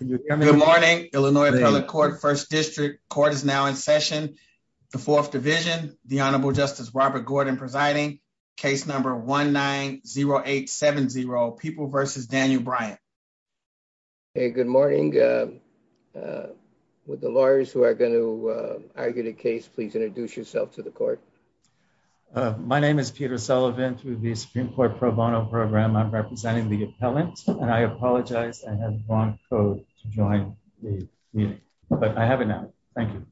Good morning, Illinois Appellate Court, 1st District. Court is now in session. The 4th Division, the Honorable Justice Robert Gordon presiding, case number 1-9-0-8-7-0, People v. Daniel Bryant. Hey, good morning. Would the lawyers who are going to argue the case please introduce yourself to the court? My name is Peter Sullivan. Through the Supreme Court Pro Bono Program, I'm representing the appellant, and I apologize. I had the wrong code to join the meeting, but I have it now. Thank you.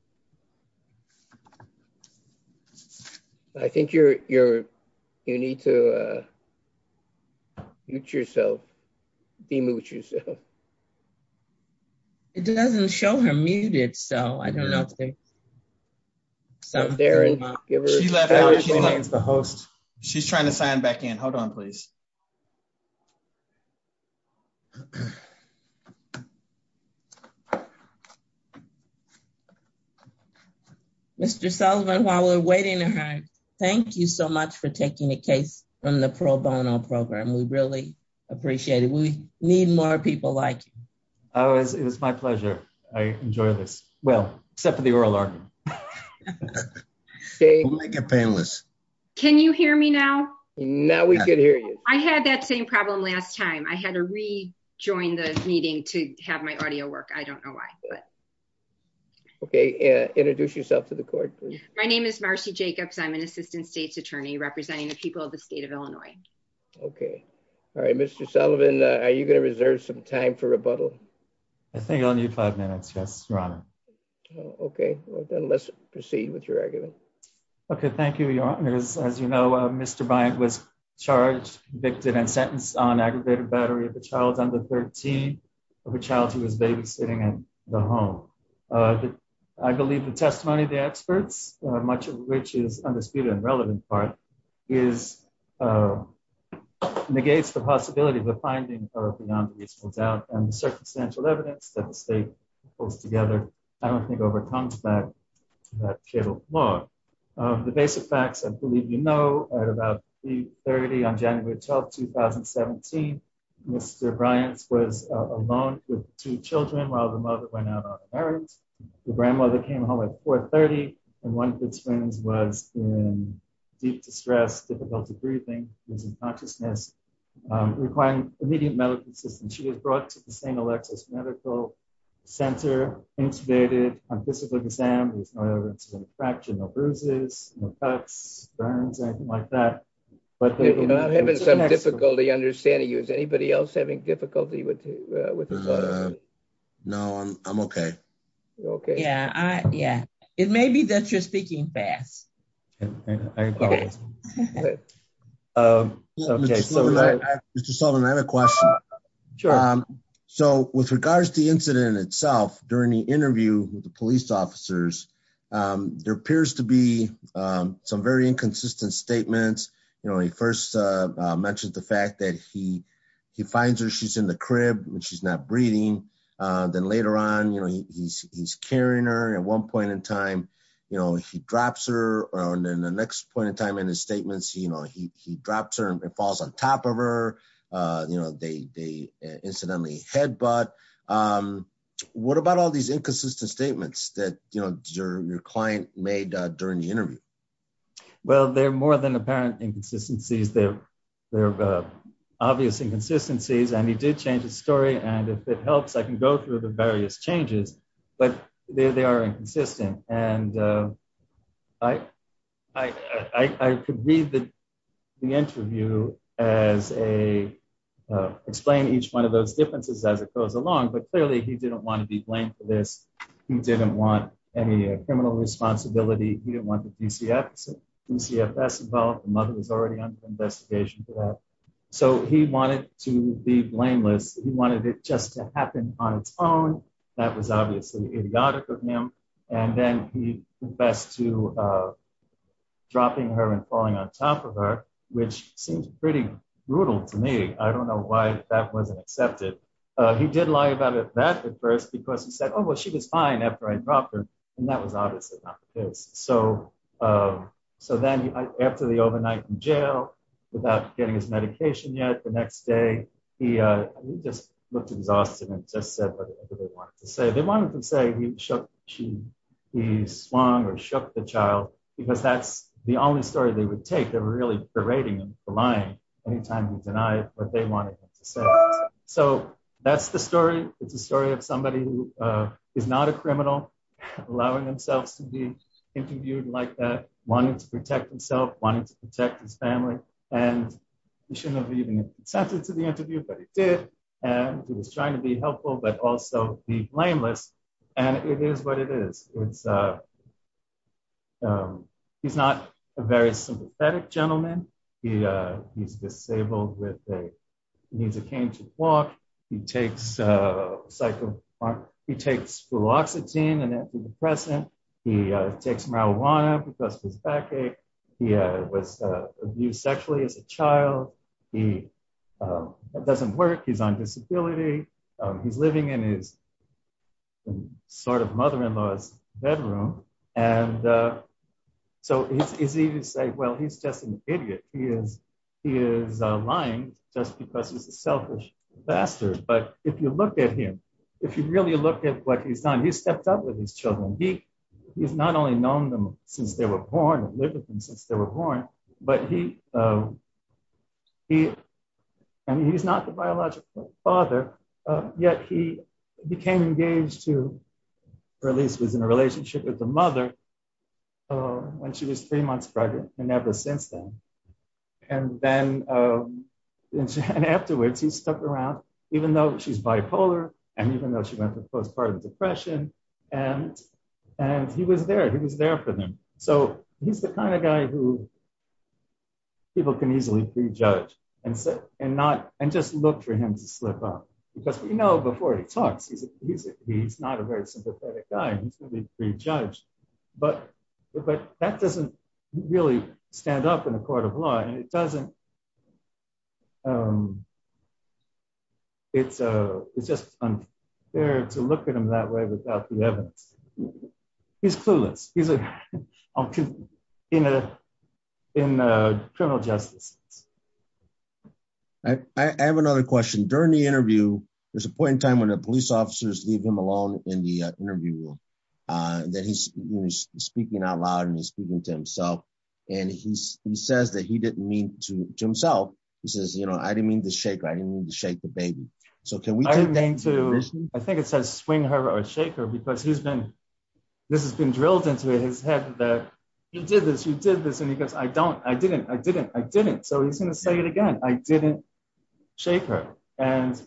I think you need to mute yourself, demute yourself. It doesn't show her muted, so I don't know. She's trying to sign back in. Hold on, please. Mr. Sullivan, while we're waiting to hear, thank you so much for taking the case from the Pro Bono Program. We really appreciate it. We need more people like you. It was my pleasure. I enjoy this. Well, except for the oral argument. Can you hear me now? Now we can hear you. I had that same problem last time. I had to rejoin the meeting to have my audio work. I don't know why. Okay, introduce yourself to the court, please. My name is Marcy Jacobs. I'm an Assistant State's Attorney representing the people of the state of Illinois. Okay. All right, Mr. Sullivan, are you going to reserve some time for rebuttal? I think I'll need five minutes. Yes, Your Honor. Okay, well then let's proceed with your argument. Okay, thank you, Your Honor. As you know, Mr. Bryant was charged, convicted, and sentenced on aggravated battery of a child under 13, of a child who was babysitting in the home. I believe the testimony of the experts, much of which is undisputed and relevant part, negates the possibility of the finding of a beyond reasonable doubt and the circumstantial evidence that the state pulls together, I don't think, overcomes that cable flaw. The basic facts, I believe you know, at about 3.30 on January 12, 2017, Mr. Bryant was alone with two children while the mother went out on a marriage. The grandmother came home at 4.30, and one of its friends was in deep distress, difficulty breathing, losing consciousness, requiring immediate medical assistance. She was brought to the St. Alexis Medical Center, intubated, on physical exam. There was no evidence of any fracture, no bruises, no cuts, burns, anything like that. You're not having some difficulty understanding you. Is anybody having difficulty with you? No, I'm okay. Okay. Yeah. It may be that you're speaking fast. Mr. Sullivan, I have a question. Sure. So with regards to the incident itself, during the interview with the police officers, there appears to be some very inconsistent statements. You know, he first mentioned the fact that he finds her, she's in the crib, she's not breathing. Then later on, you know, he's carrying her. At one point in time, you know, he drops her. And then the next point in time in his statements, you know, he drops her and falls on top of her. You know, they incidentally headbutt. What about all these apparent inconsistencies? They're obvious inconsistencies. And he did change his story. And if it helps, I can go through the various changes. But they are inconsistent. And I could read the interview as a, explain each one of those differences as it goes along. But clearly, he didn't want to be blamed for this. He didn't want any criminal responsibility. He didn't want DCFS involved. The mother was already under investigation for that. So he wanted to be blameless. He wanted it just to happen on its own. That was obviously idiotic of him. And then he confessed to dropping her and falling on top of her, which seems pretty brutal to me. I don't know why that wasn't accepted. He did lie about it that at first because he said, Oh, well, she was fine after I dropped her. And that was obviously not the case. So then after the overnight in jail, without getting his medication yet, the next day, he just looked exhausted and just said whatever they wanted to say. They wanted him to say he shook, he swung or shook the child, because that's the only story they would take. They were really berating him for lying anytime he denied what they wanted him to say. So that's the story. It's a story of somebody who is not a criminal, allowing themselves to be interviewed like that, wanting to protect himself wanting to protect his family. And he shouldn't have even consented to the interview, but he did. And he was trying to be helpful, but also be blameless. And it is what it is. It's he's not a very sympathetic gentleman. He, he's disabled with a needs a cane to walk. He takes a cycle. He takes fluoxetine and antidepressant. He takes marijuana because his backache. He was abused sexually as a child. He doesn't work. He's on disability. He's living in his sort of mother-in-law's bedroom. And so it's easy to say, Well, he's just an idiot. He is. He is lying just because he's a selfish bastard. But if you look at him, if you really look at what he's done, he stepped up with his children. He he's not only known them since they were born and lived with them since they were born, but he he and he's not the biological father. Yet he became engaged to release was in a relationship with the mother when she was three months pregnant and never since then. And then afterwards he stuck around even though she's bipolar. And even though she went to postpartum depression and, and he was there, he was there for them. So he's the kind of guy who people can easily prejudge and sit and not, and just look for him to slip up because, you know, before he talks, he's, he's, he's not a very sympathetic guy. He's going to be prejudged, but, but that doesn't really stand up in the court of law. And it doesn't. It's, it's just unfair to look at him that way without the evidence. He's clueless. He's in a, in a criminal justice. I have another question during the interview. There's a point in time when the police officers leave him alone in the interview room that he's speaking out loud and he's speaking to himself. And he's, he says that he didn't mean to himself. He says, you know, I didn't mean to shake. I didn't mean to shake the baby. So can we, I didn't mean to, I think it says swing her or shake her because he's been, this has been drilled into his head that he did this and he goes, I don't, I didn't, I didn't, I didn't. So he's going to say it again. I didn't shake her. And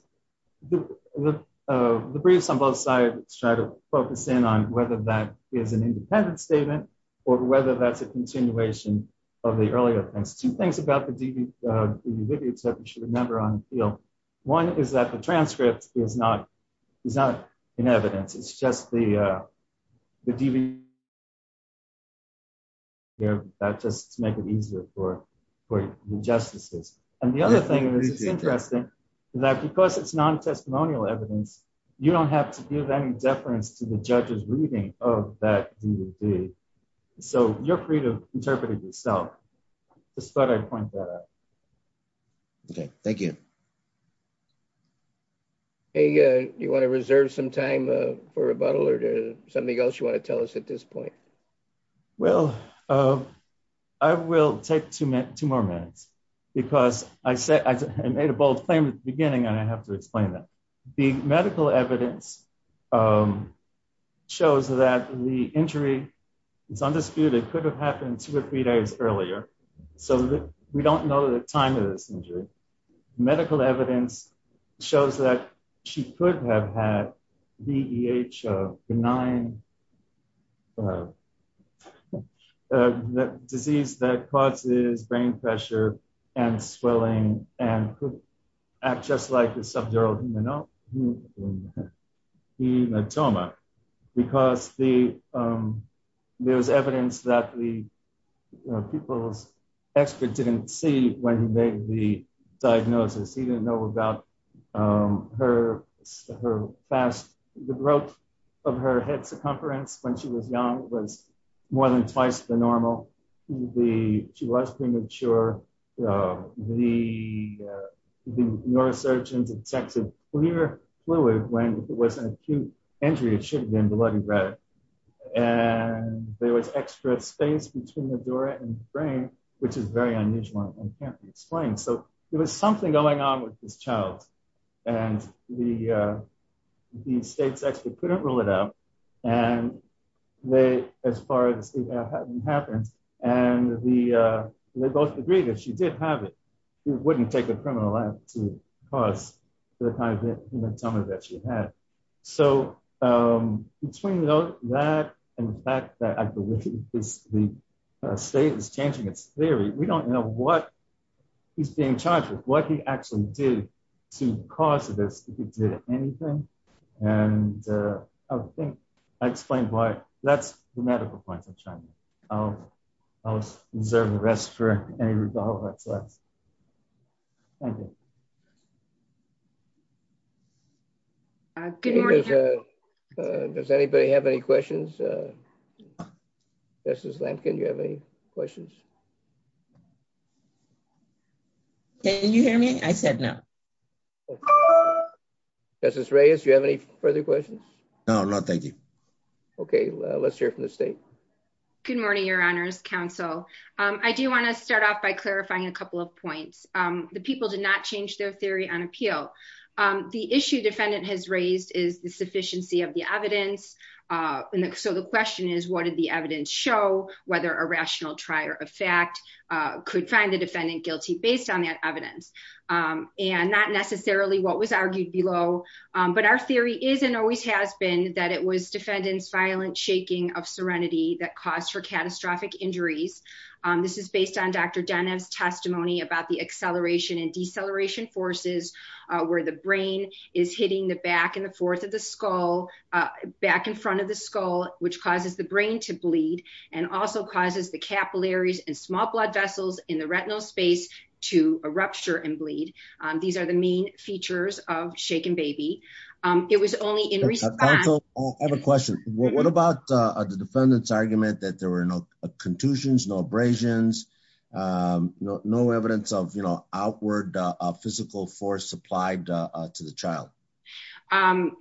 the, the, the briefs on both sides, try to focus in on whether that is an independent statement or whether that's a continuation of the earlier things, two things about the DV, the video that you should remember on, you know, one is that the transcript is not, it's not an evidence. It's just the, uh, the DV here that just to make it easier for, for the justices. And the other thing that's interesting is that because it's non-testimonial evidence, you don't have to give any deference to the judge's reading of that. So you're free to interpret it yourself. Just thought I'd point that out. Okay. Thank you. Hey, uh, you want to reserve some time, uh, for rebuttal or something else you want to tell us at this point? Well, uh, I will take two minutes, two more minutes because I said, I made a bold claim at the beginning and I have to explain that the medical evidence, um, shows that the injury it's undisputed could have happened two or three days earlier. So we don't know the time of this medical evidence shows that she could have had VEH, a benign, uh, disease that causes brain pressure and swelling and could act just like the subdural hematoma. The hematoma, because the, um, there's evidence that the people's expert didn't see when he made the diagnosis, he didn't know about, um, her, her fast growth of her head circumference when she was young was more than twice the normal. The, she was premature. Um, the, uh, the neurosurgeons detected clear fluid when it was an acute injury, it should have been bloody red. And there was extra space between the door and the brain, which is very unusual and can't be explained. So there was something going on with this child and the, uh, the state's expert couldn't rule it out. And they, as far as it hadn't happened and the, uh, they both agreed that she did have it. Wouldn't take a criminal act to cause the kind of hematoma that she had. So, um, between that and the fact that I believe the state is changing its theory, we don't know what he's being charged with, what he actually did to cause this, if he did anything. And, uh, I think I explained why that's the medical point of China. I'll, I'll reserve the rest for any results. Thank you. Does anybody have any questions? Uh, this is Lampkin. You have any questions? Can you hear me? I said no. This is Reyes. Do you have any further questions? No, no. Thank you. Okay. Let's hear from the state. Good morning, your honors council. Um, I do want to start off by clarifying a couple of points. Um, the people did not change their theory on appeal. Um, the issue defendant has raised is the sufficiency of the evidence. Uh, and so the question is, what did the evidence show? Whether a rational try or effect, uh, could find the defendant guilty based on that evidence. Um, and not necessarily what was argued below. Um, but our theory is, and always has been that it was defendants, violent shaking of serenity that caused her catastrophic injuries. Um, this is based on Dr. Dunham's testimony about the acceleration and deceleration forces, uh, where the brain is hitting the back and the fourth of the skull, uh, back in front of the skull, which causes the brain to bleed and also causes the capillaries and small blood vessels in the retinal space to a rupture and bleed. Um, these are the main features of shaken baby. Um, it was only in response. Oh, I have a question. What about, uh, the defendant's argument that there were no contusions, no abrasions, um, no, no evidence of, you know, outward, uh, physical force applied, uh, to the child. Um,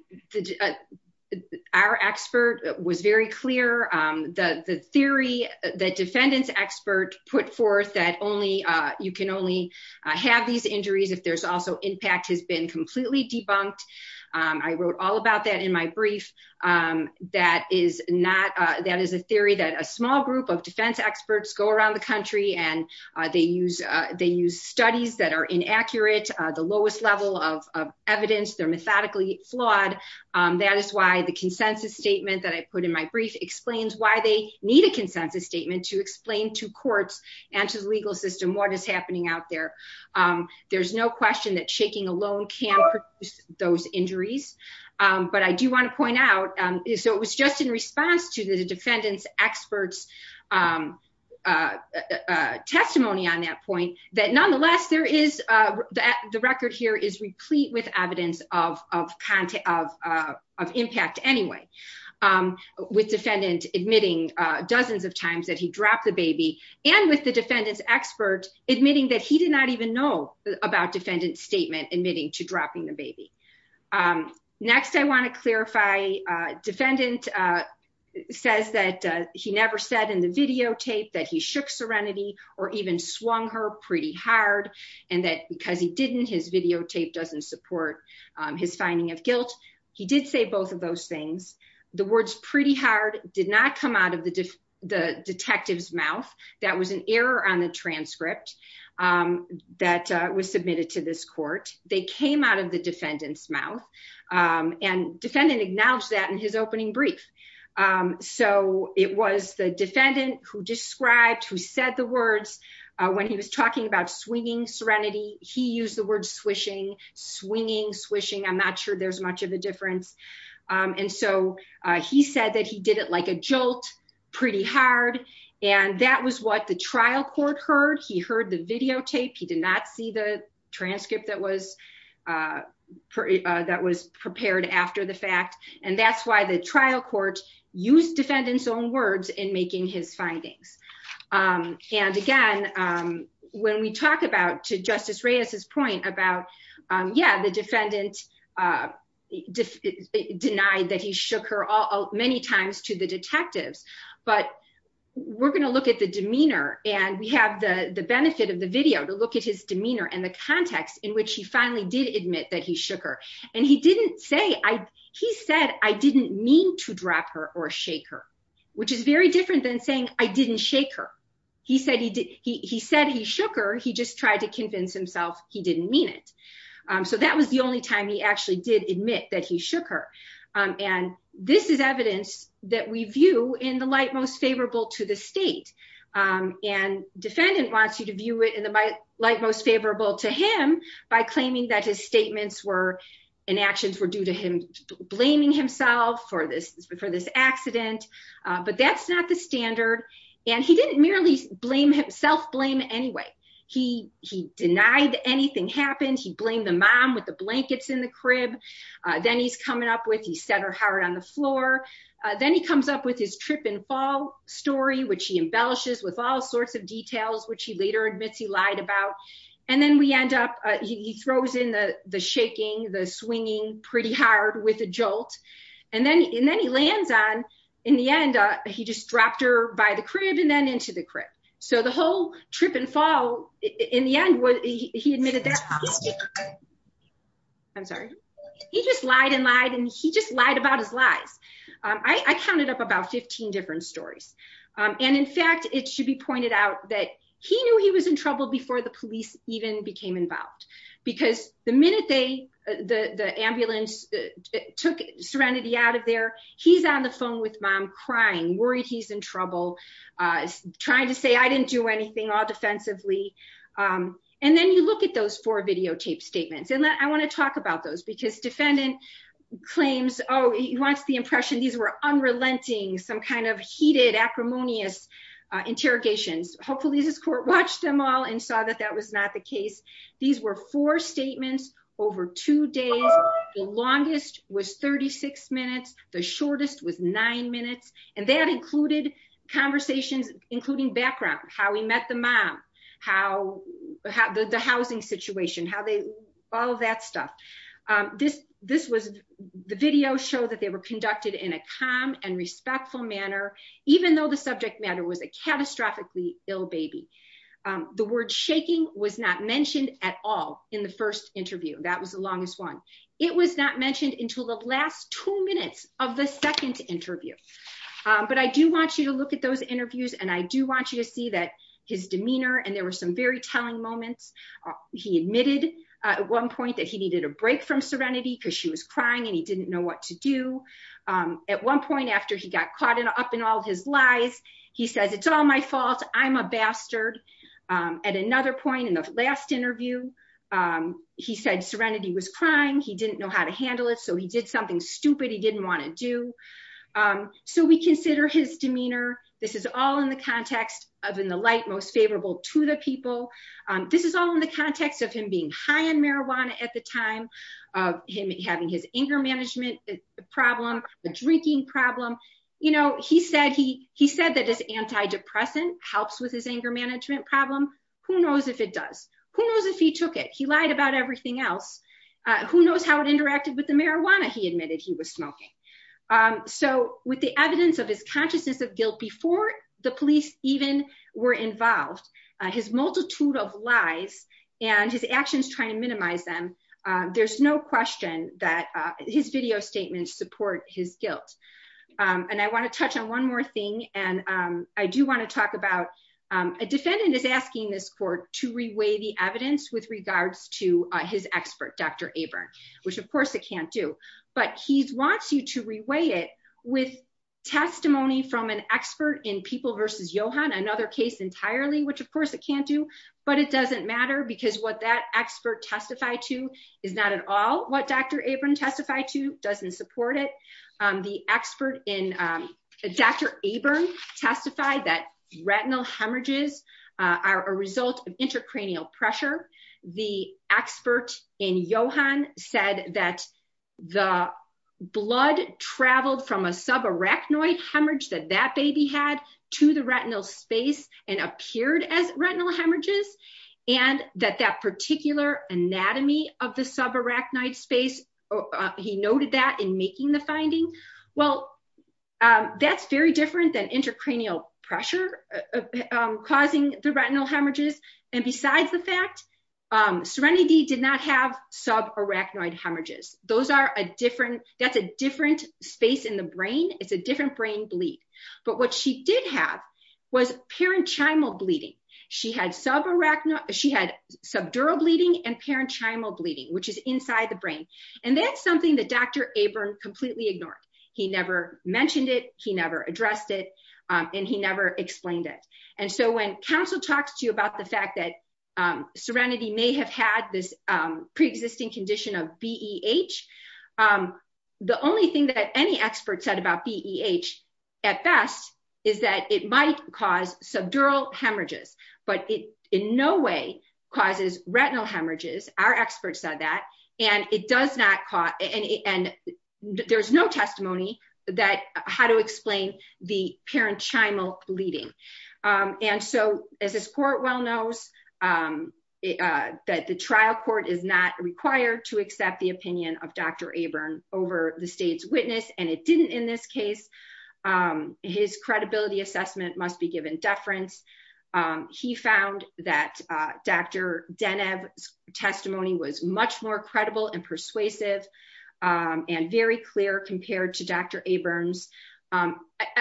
our expert was very clear. Um, the theory that defendants expert put forth that only, uh, you can only have these injuries if there's also impact has been completely debunked. Um, I wrote all about that in my brief. Um, that is not, uh, that is a theory that a small group of defense experts go around the country and, uh, they use, uh, they use studies that are inaccurate, uh, the lowest level of evidence they're methodically flawed. Um, that is why the consensus statement that I put in my brief explains why they need a consensus statement to explain to courts and to the legal system, what is happening out there. Um, there's no question that shaking alone can produce those injuries. Um, but I do want to point out, um, so it was just in response to the defendant's experts, um, uh, uh, testimony on that point that nonetheless, there is, uh, that the record here is replete with evidence of, of content, of, uh, of impact anyway. Um, with defendant admitting, uh, dozens of times that he dropped the baby and with the defendant's expert admitting that he did not even know about defendant statement admitting to dropping the baby. Um, next I want to clarify, uh, defendant, uh, says that, uh, he never said in the videotape that he shook serenity or even swung her pretty hard. And that because he didn't, his videotape doesn't support, um, his finding of guilt. He did say both of those things. The words pretty hard did not come out of the D the detective's mouth. That was an error on the transcript, um, that, uh, was submitted to this court. They came out of the defendant's mouth, um, and defendant acknowledged that in his opening brief. Um, so it was the defendant who described, who said the words, uh, when he was talking about swinging serenity, he used the word swishing, swinging, swishing. I'm not sure there's much of a difference. Um, and so, uh, he said that he did it like a jolt pretty hard. And that was what the trial court heard. He heard the videotape. He did not see the transcript that was, uh, uh, that was prepared after the fact. And that's why the trial court used defendant's own words in making his findings. Um, and again, um, when we talk about to justice Reyes's point about, um, yeah, the defendant, uh, def denied that he shook her all many times to the detectives, but we're going to at the demeanor and we have the benefit of the video to look at his demeanor and the context in which he finally did admit that he shook her. And he didn't say, I, he said, I didn't mean to drop her or shake her, which is very different than saying I didn't shake her. He said he did. He said he shook her. He just tried to convince himself. He didn't mean it. Um, so that was the only time he actually did admit that he shook her. Um, and this is evidence that we view in the most favorable to the state. Um, and defendant wants you to view it in the light, most favorable to him by claiming that his statements were in actions were due to him blaming himself for this, for this accident. Uh, but that's not the standard. And he didn't merely blame himself blame. Anyway, he, he denied anything happened. He blamed the mom with the blankets in the crib. Uh, then he's story, which he embellishes with all sorts of details, which he later admits he lied about. And then we end up, uh, he throws in the, the shaking, the swinging pretty hard with a jolt. And then, and then he lands on in the end, uh, he just dropped her by the crib and then into the crib. So the whole trip and fall in the end, he admitted that. I'm sorry. He just lied and lied. And he just lied about his lies. Um, I counted up about 15 different stories. Um, and in fact, it should be pointed out that he knew he was in trouble before the police even became involved because the minute they, the, the ambulance took serenity out of there, he's on the phone with mom crying, worried. He's in trouble, uh, trying to say, I didn't do anything all defensively. Um, and then you look at those four videotape statements and that I want to talk about those because defendant claims, Oh, he wants the impression. These were unrelenting, some kind of heated acrimonious interrogations. Hopefully this court watched them all and saw that that was not the case. These were four statements over two days. The longest was 36 minutes. The shortest was nine minutes. And that included conversations, including background, how he met the mom, how the housing situation, how they, all of that stuff. Um, this, this was the video show that they were conducted in a calm and respectful manner, even though the subject matter was a catastrophically ill baby. Um, the word shaking was not mentioned at all in the first interview. That was the longest one. It was not mentioned until the last two minutes of the second interview. Um, but I do want you to look at those interviews and I do want you to see that his demeanor, and there were some very telling moments. He admitted at one point that he needed a break from serenity because she was crying and he didn't know what to do. Um, at one point after he got caught in up in all of his lies, he says, it's all my fault. I'm a bastard. Um, at another point in the last interview, um, he said serenity was crying. He didn't know how to handle it. So he did something stupid. He didn't want to do. Um, so we consider his demeanor. This is all in context of, in the light, most favorable to the people. Um, this is all in the context of him being high in marijuana at the time of him having his anger management problem, the drinking problem. You know, he said, he, he said that his antidepressant helps with his anger management problem. Who knows if it does, who knows if he took it, he lied about everything else. Who knows how it interacted with the marijuana he admitted he was smoking. Um, so with the evidence of his consciousness of guilt before the police even were involved, his multitude of lies and his actions trying to minimize them. Um, there's no question that, uh, his video statements support his guilt. Um, and I want to touch on one more thing. And, um, I do want to talk about, um, a defendant is asking this court to reweigh the evidence with which of course it can't do, but he's wants you to reweigh it with testimony from an expert in people versus Johan, another case entirely, which of course it can't do, but it doesn't matter because what that expert testified to is not at all. What Dr. Abram testified to doesn't support it. Um, the expert in, um, Dr. Abram testified that retinal hemorrhages, uh, are a result of that the blood traveled from a subarachnoid hemorrhage that that baby had to the retinal space and appeared as retinal hemorrhages. And that that particular anatomy of the subarachnoid space, he noted that in making the finding, well, um, that's very different than intracranial pressure, um, causing the retinal hemorrhages. And besides the fact, um, serenity did not have subarachnoid hemorrhages. Those are a different, that's a different space in the brain. It's a different brain bleed. But what she did have was parenchymal bleeding. She had subarachnoid, she had subdural bleeding and parenchymal bleeding, which is inside the brain. And that's something that Dr. Abram completely ignored. He never mentioned it. He never addressed it. Um, and he never explained it. And so when counsel talks to you about the fact that, um, serenity may have had this, um, preexisting condition of BEH. Um, the only thing that any experts said about BEH at best is that it might cause subdural hemorrhages, but it in no way causes retinal hemorrhages. Our experts said that, and it does not cause, and there's no testimony that how to that the trial court is not required to accept the opinion of Dr. Abram over the state's witness. And it didn't in this case, um, his credibility assessment must be given deference. Um, he found that, uh, Dr. Deneb testimony was much more credible and persuasive, um, and very clear compared to Dr. Abrams. Um,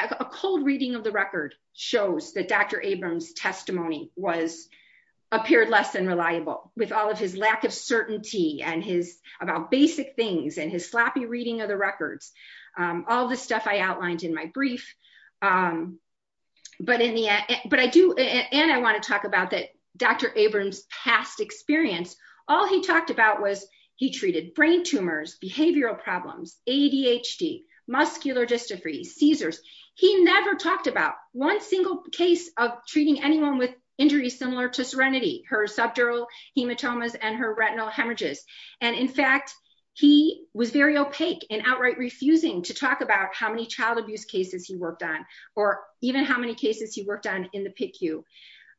a cold reading of the record shows that Dr. Abrams testimony was appeared less than reliable with all of his lack of certainty and his about basic things and his sloppy reading of the records. Um, all of the stuff I outlined in my brief, um, but in the, but I do, and I want to talk about that Dr. Abrams past experience, all he talked about was he treated brain tumors, behavioral problems, ADHD, muscular dystrophy, Caesars. He never talked about one single case of treating anyone with injuries, similar to serenity, her subdural hematomas and her retinal hemorrhages. And in fact, he was very opaque and outright refusing to talk about how many child abuse cases he worked on, or even how many cases he worked on in the PICU.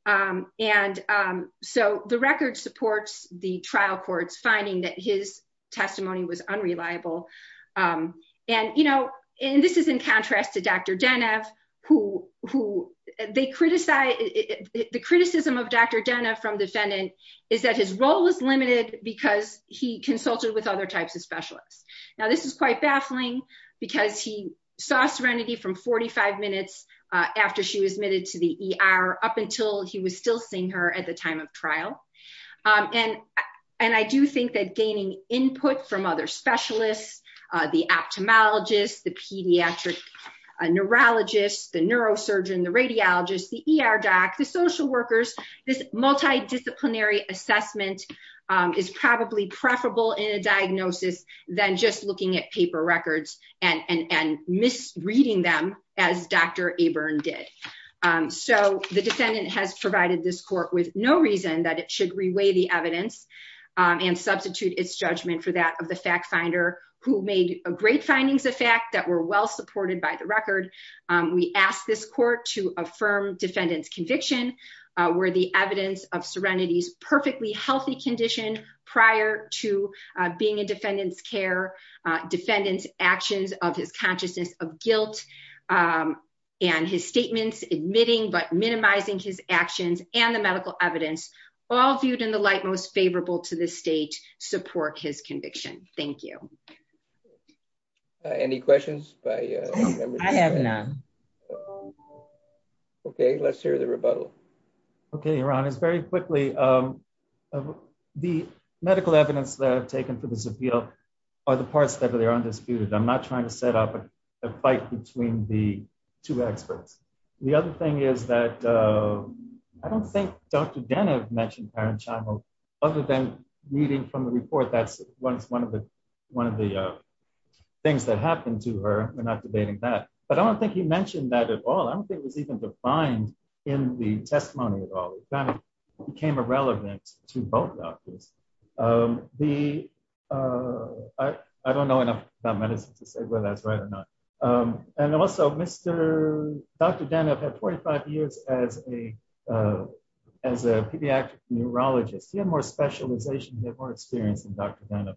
Um, and, um, so the record supports the trial courts finding that his testimony was unreliable. Um, and you who they criticize the criticism of Dr. Dana from defendant is that his role was limited because he consulted with other types of specialists. Now this is quite baffling because he saw serenity from 45 minutes after she was admitted to the ER up until he was still seeing her at the time of trial. Um, and, and I do think that gaining input from other specialists, uh, the ophthalmologist, the pediatric neurologist, the neurosurgeon, the radiologist, the ER doc, the social workers, this multidisciplinary assessment, um, is probably preferable in a diagnosis than just looking at paper records and, and, and misreading them as Dr. Aburn did. Um, so the defendant has provided this court with no reason that it should reweigh the evidence, um, and substitute its findings. The fact that we're well supported by the record. Um, we asked this court to affirm defendant's conviction, uh, where the evidence of serenity is perfectly healthy condition prior to, uh, being in defendant's care, uh, defendant's actions of his consciousness of guilt, um, and his statements admitting, but minimizing his actions and the medical evidence all viewed in light most favorable to the state support his conviction. Thank you. Any questions by members? I have none. Okay. Let's hear the rebuttal. Okay. Iran is very quickly. Um, the medical evidence that I've taken for this appeal are the parts that are undisputed. I'm not trying to set up a fight between the two experts. The other thing is that, uh, I don't think Dr. Denev mentioned Karen Chamo other than reading from the report. That's one, it's one of the, one of the, uh, things that happened to her. We're not debating that, but I don't think he mentioned that at all. I don't think it was even defined in the testimony at all. It kind of became irrelevant to both doctors. Um, the, uh, I, I don't know enough about medicine to say whether that's right or not. Um, and also Mr. Dr. Denev had 25 years as a, uh, as a pediatric neurologist, he had more specialization, he had more experience than Dr. Denev.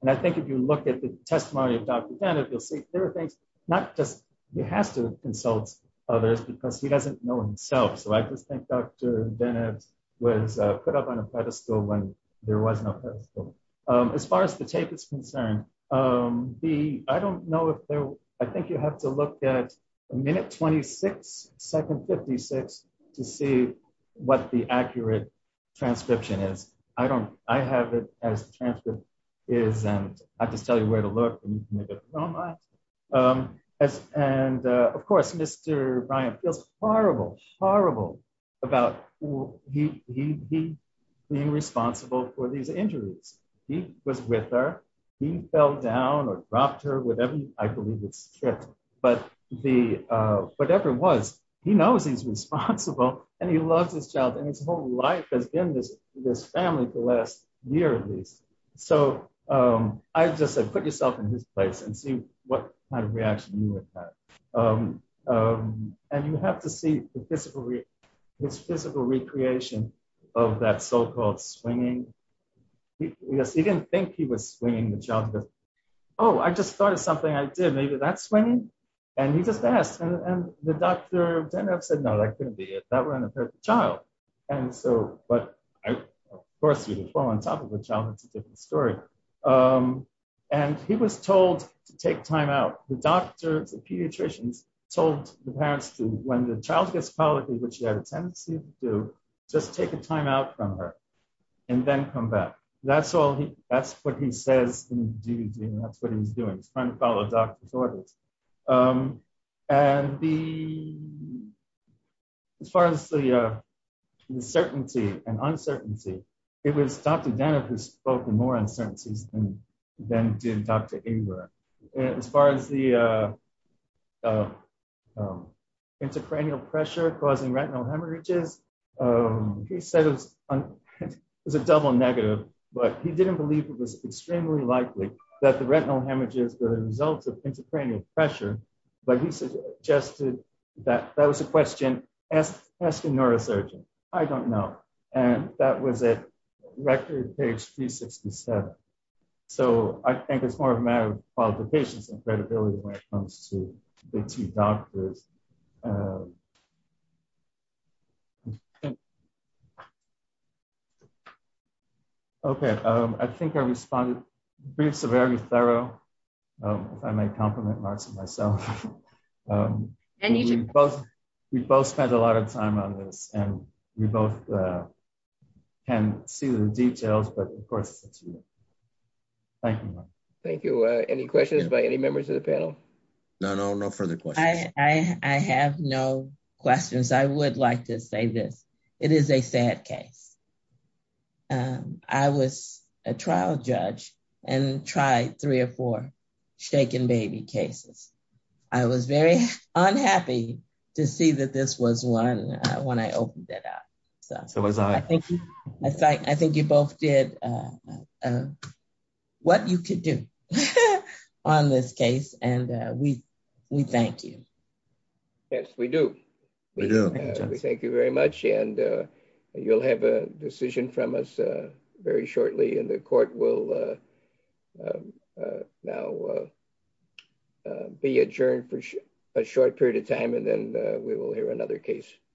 And I think if you look at the testimony of Dr. Denev, you'll see there are things not just, he has to consult others because he doesn't know himself. So I just think Dr. Denev was put up on a pedestal when there was no pedestal. Um, as far as the tape is concerned, um, the, I don't know if there, I think you have to look at a minute 26, second 56 to see what the accurate transcription is. I don't, I have it as the transcript is, and I just tell you where to look and you can make up your own mind. Um, as, and, uh, of course, Mr. Bryant feels horrible, horrible about he, he, he being responsible for these injuries. He was with her, he fell down or dropped her with every, I believe it's trip, but the, uh, whatever it was, he knows he's responsible and he loves his child and his whole life has been this, this family for the last year at least. So, um, I just said, put yourself in his place and see what kind of reaction you would have. Um, um, and you have to see the physical, his physical recreation of that so-called swinging. Yes, he didn't think he was swinging the child. Oh, I just thought of something I did. Maybe that's when he, and he just asked and the doctor said, no, that couldn't be it. That wasn't a perfect child. And so, but of course you would fall on top of the child. It's a different story. Um, and he was told to take time out. The doctors, the pediatricians told the parents to, when the child gets quality, which they have a tendency to do, just take a time out from her and then come says, that's what he's doing. He's trying to follow doctor's orders. Um, and the, as far as the, uh, the certainty and uncertainty, it was Dr. Dennis who spoke in more uncertainties than did Dr. As far as the, uh, uh, um, intracranial pressure causing retinal hemorrhages. Um, he said it was a double negative, but he didn't believe it was extremely likely that the retinal hemorrhages were the results of intracranial pressure, but he suggested that that was a question. Ask a neurosurgeon. I don't know. And that was at record page 367. So I think it's more of a matter of qualifications and credibility when it comes to the two doctors. Um, okay. Um, I think I responded very, very thorough. Um, if I may compliment myself, um, we both spent a lot of time on this and we both, uh, can see the details, but of course, thank you. Thank you. Uh, any questions by any members of the panel? No, no, no further questions. I have no questions. I would like to say this. It is a sad case. Um, I was a trial judge and tried three or four shaken baby cases. I was very unhappy to see that this was one, uh, when I opened it up. So I think, I think you both did, uh, uh, what you could do on this case. And, uh, we, we thank you. Yes, we do. We do. We thank you very much. And, uh, you'll have a decision from us, uh, very shortly in the court. We'll, uh, uh, uh, now, uh, uh, be adjourned for a short period of time, and then, uh, we will hear another case.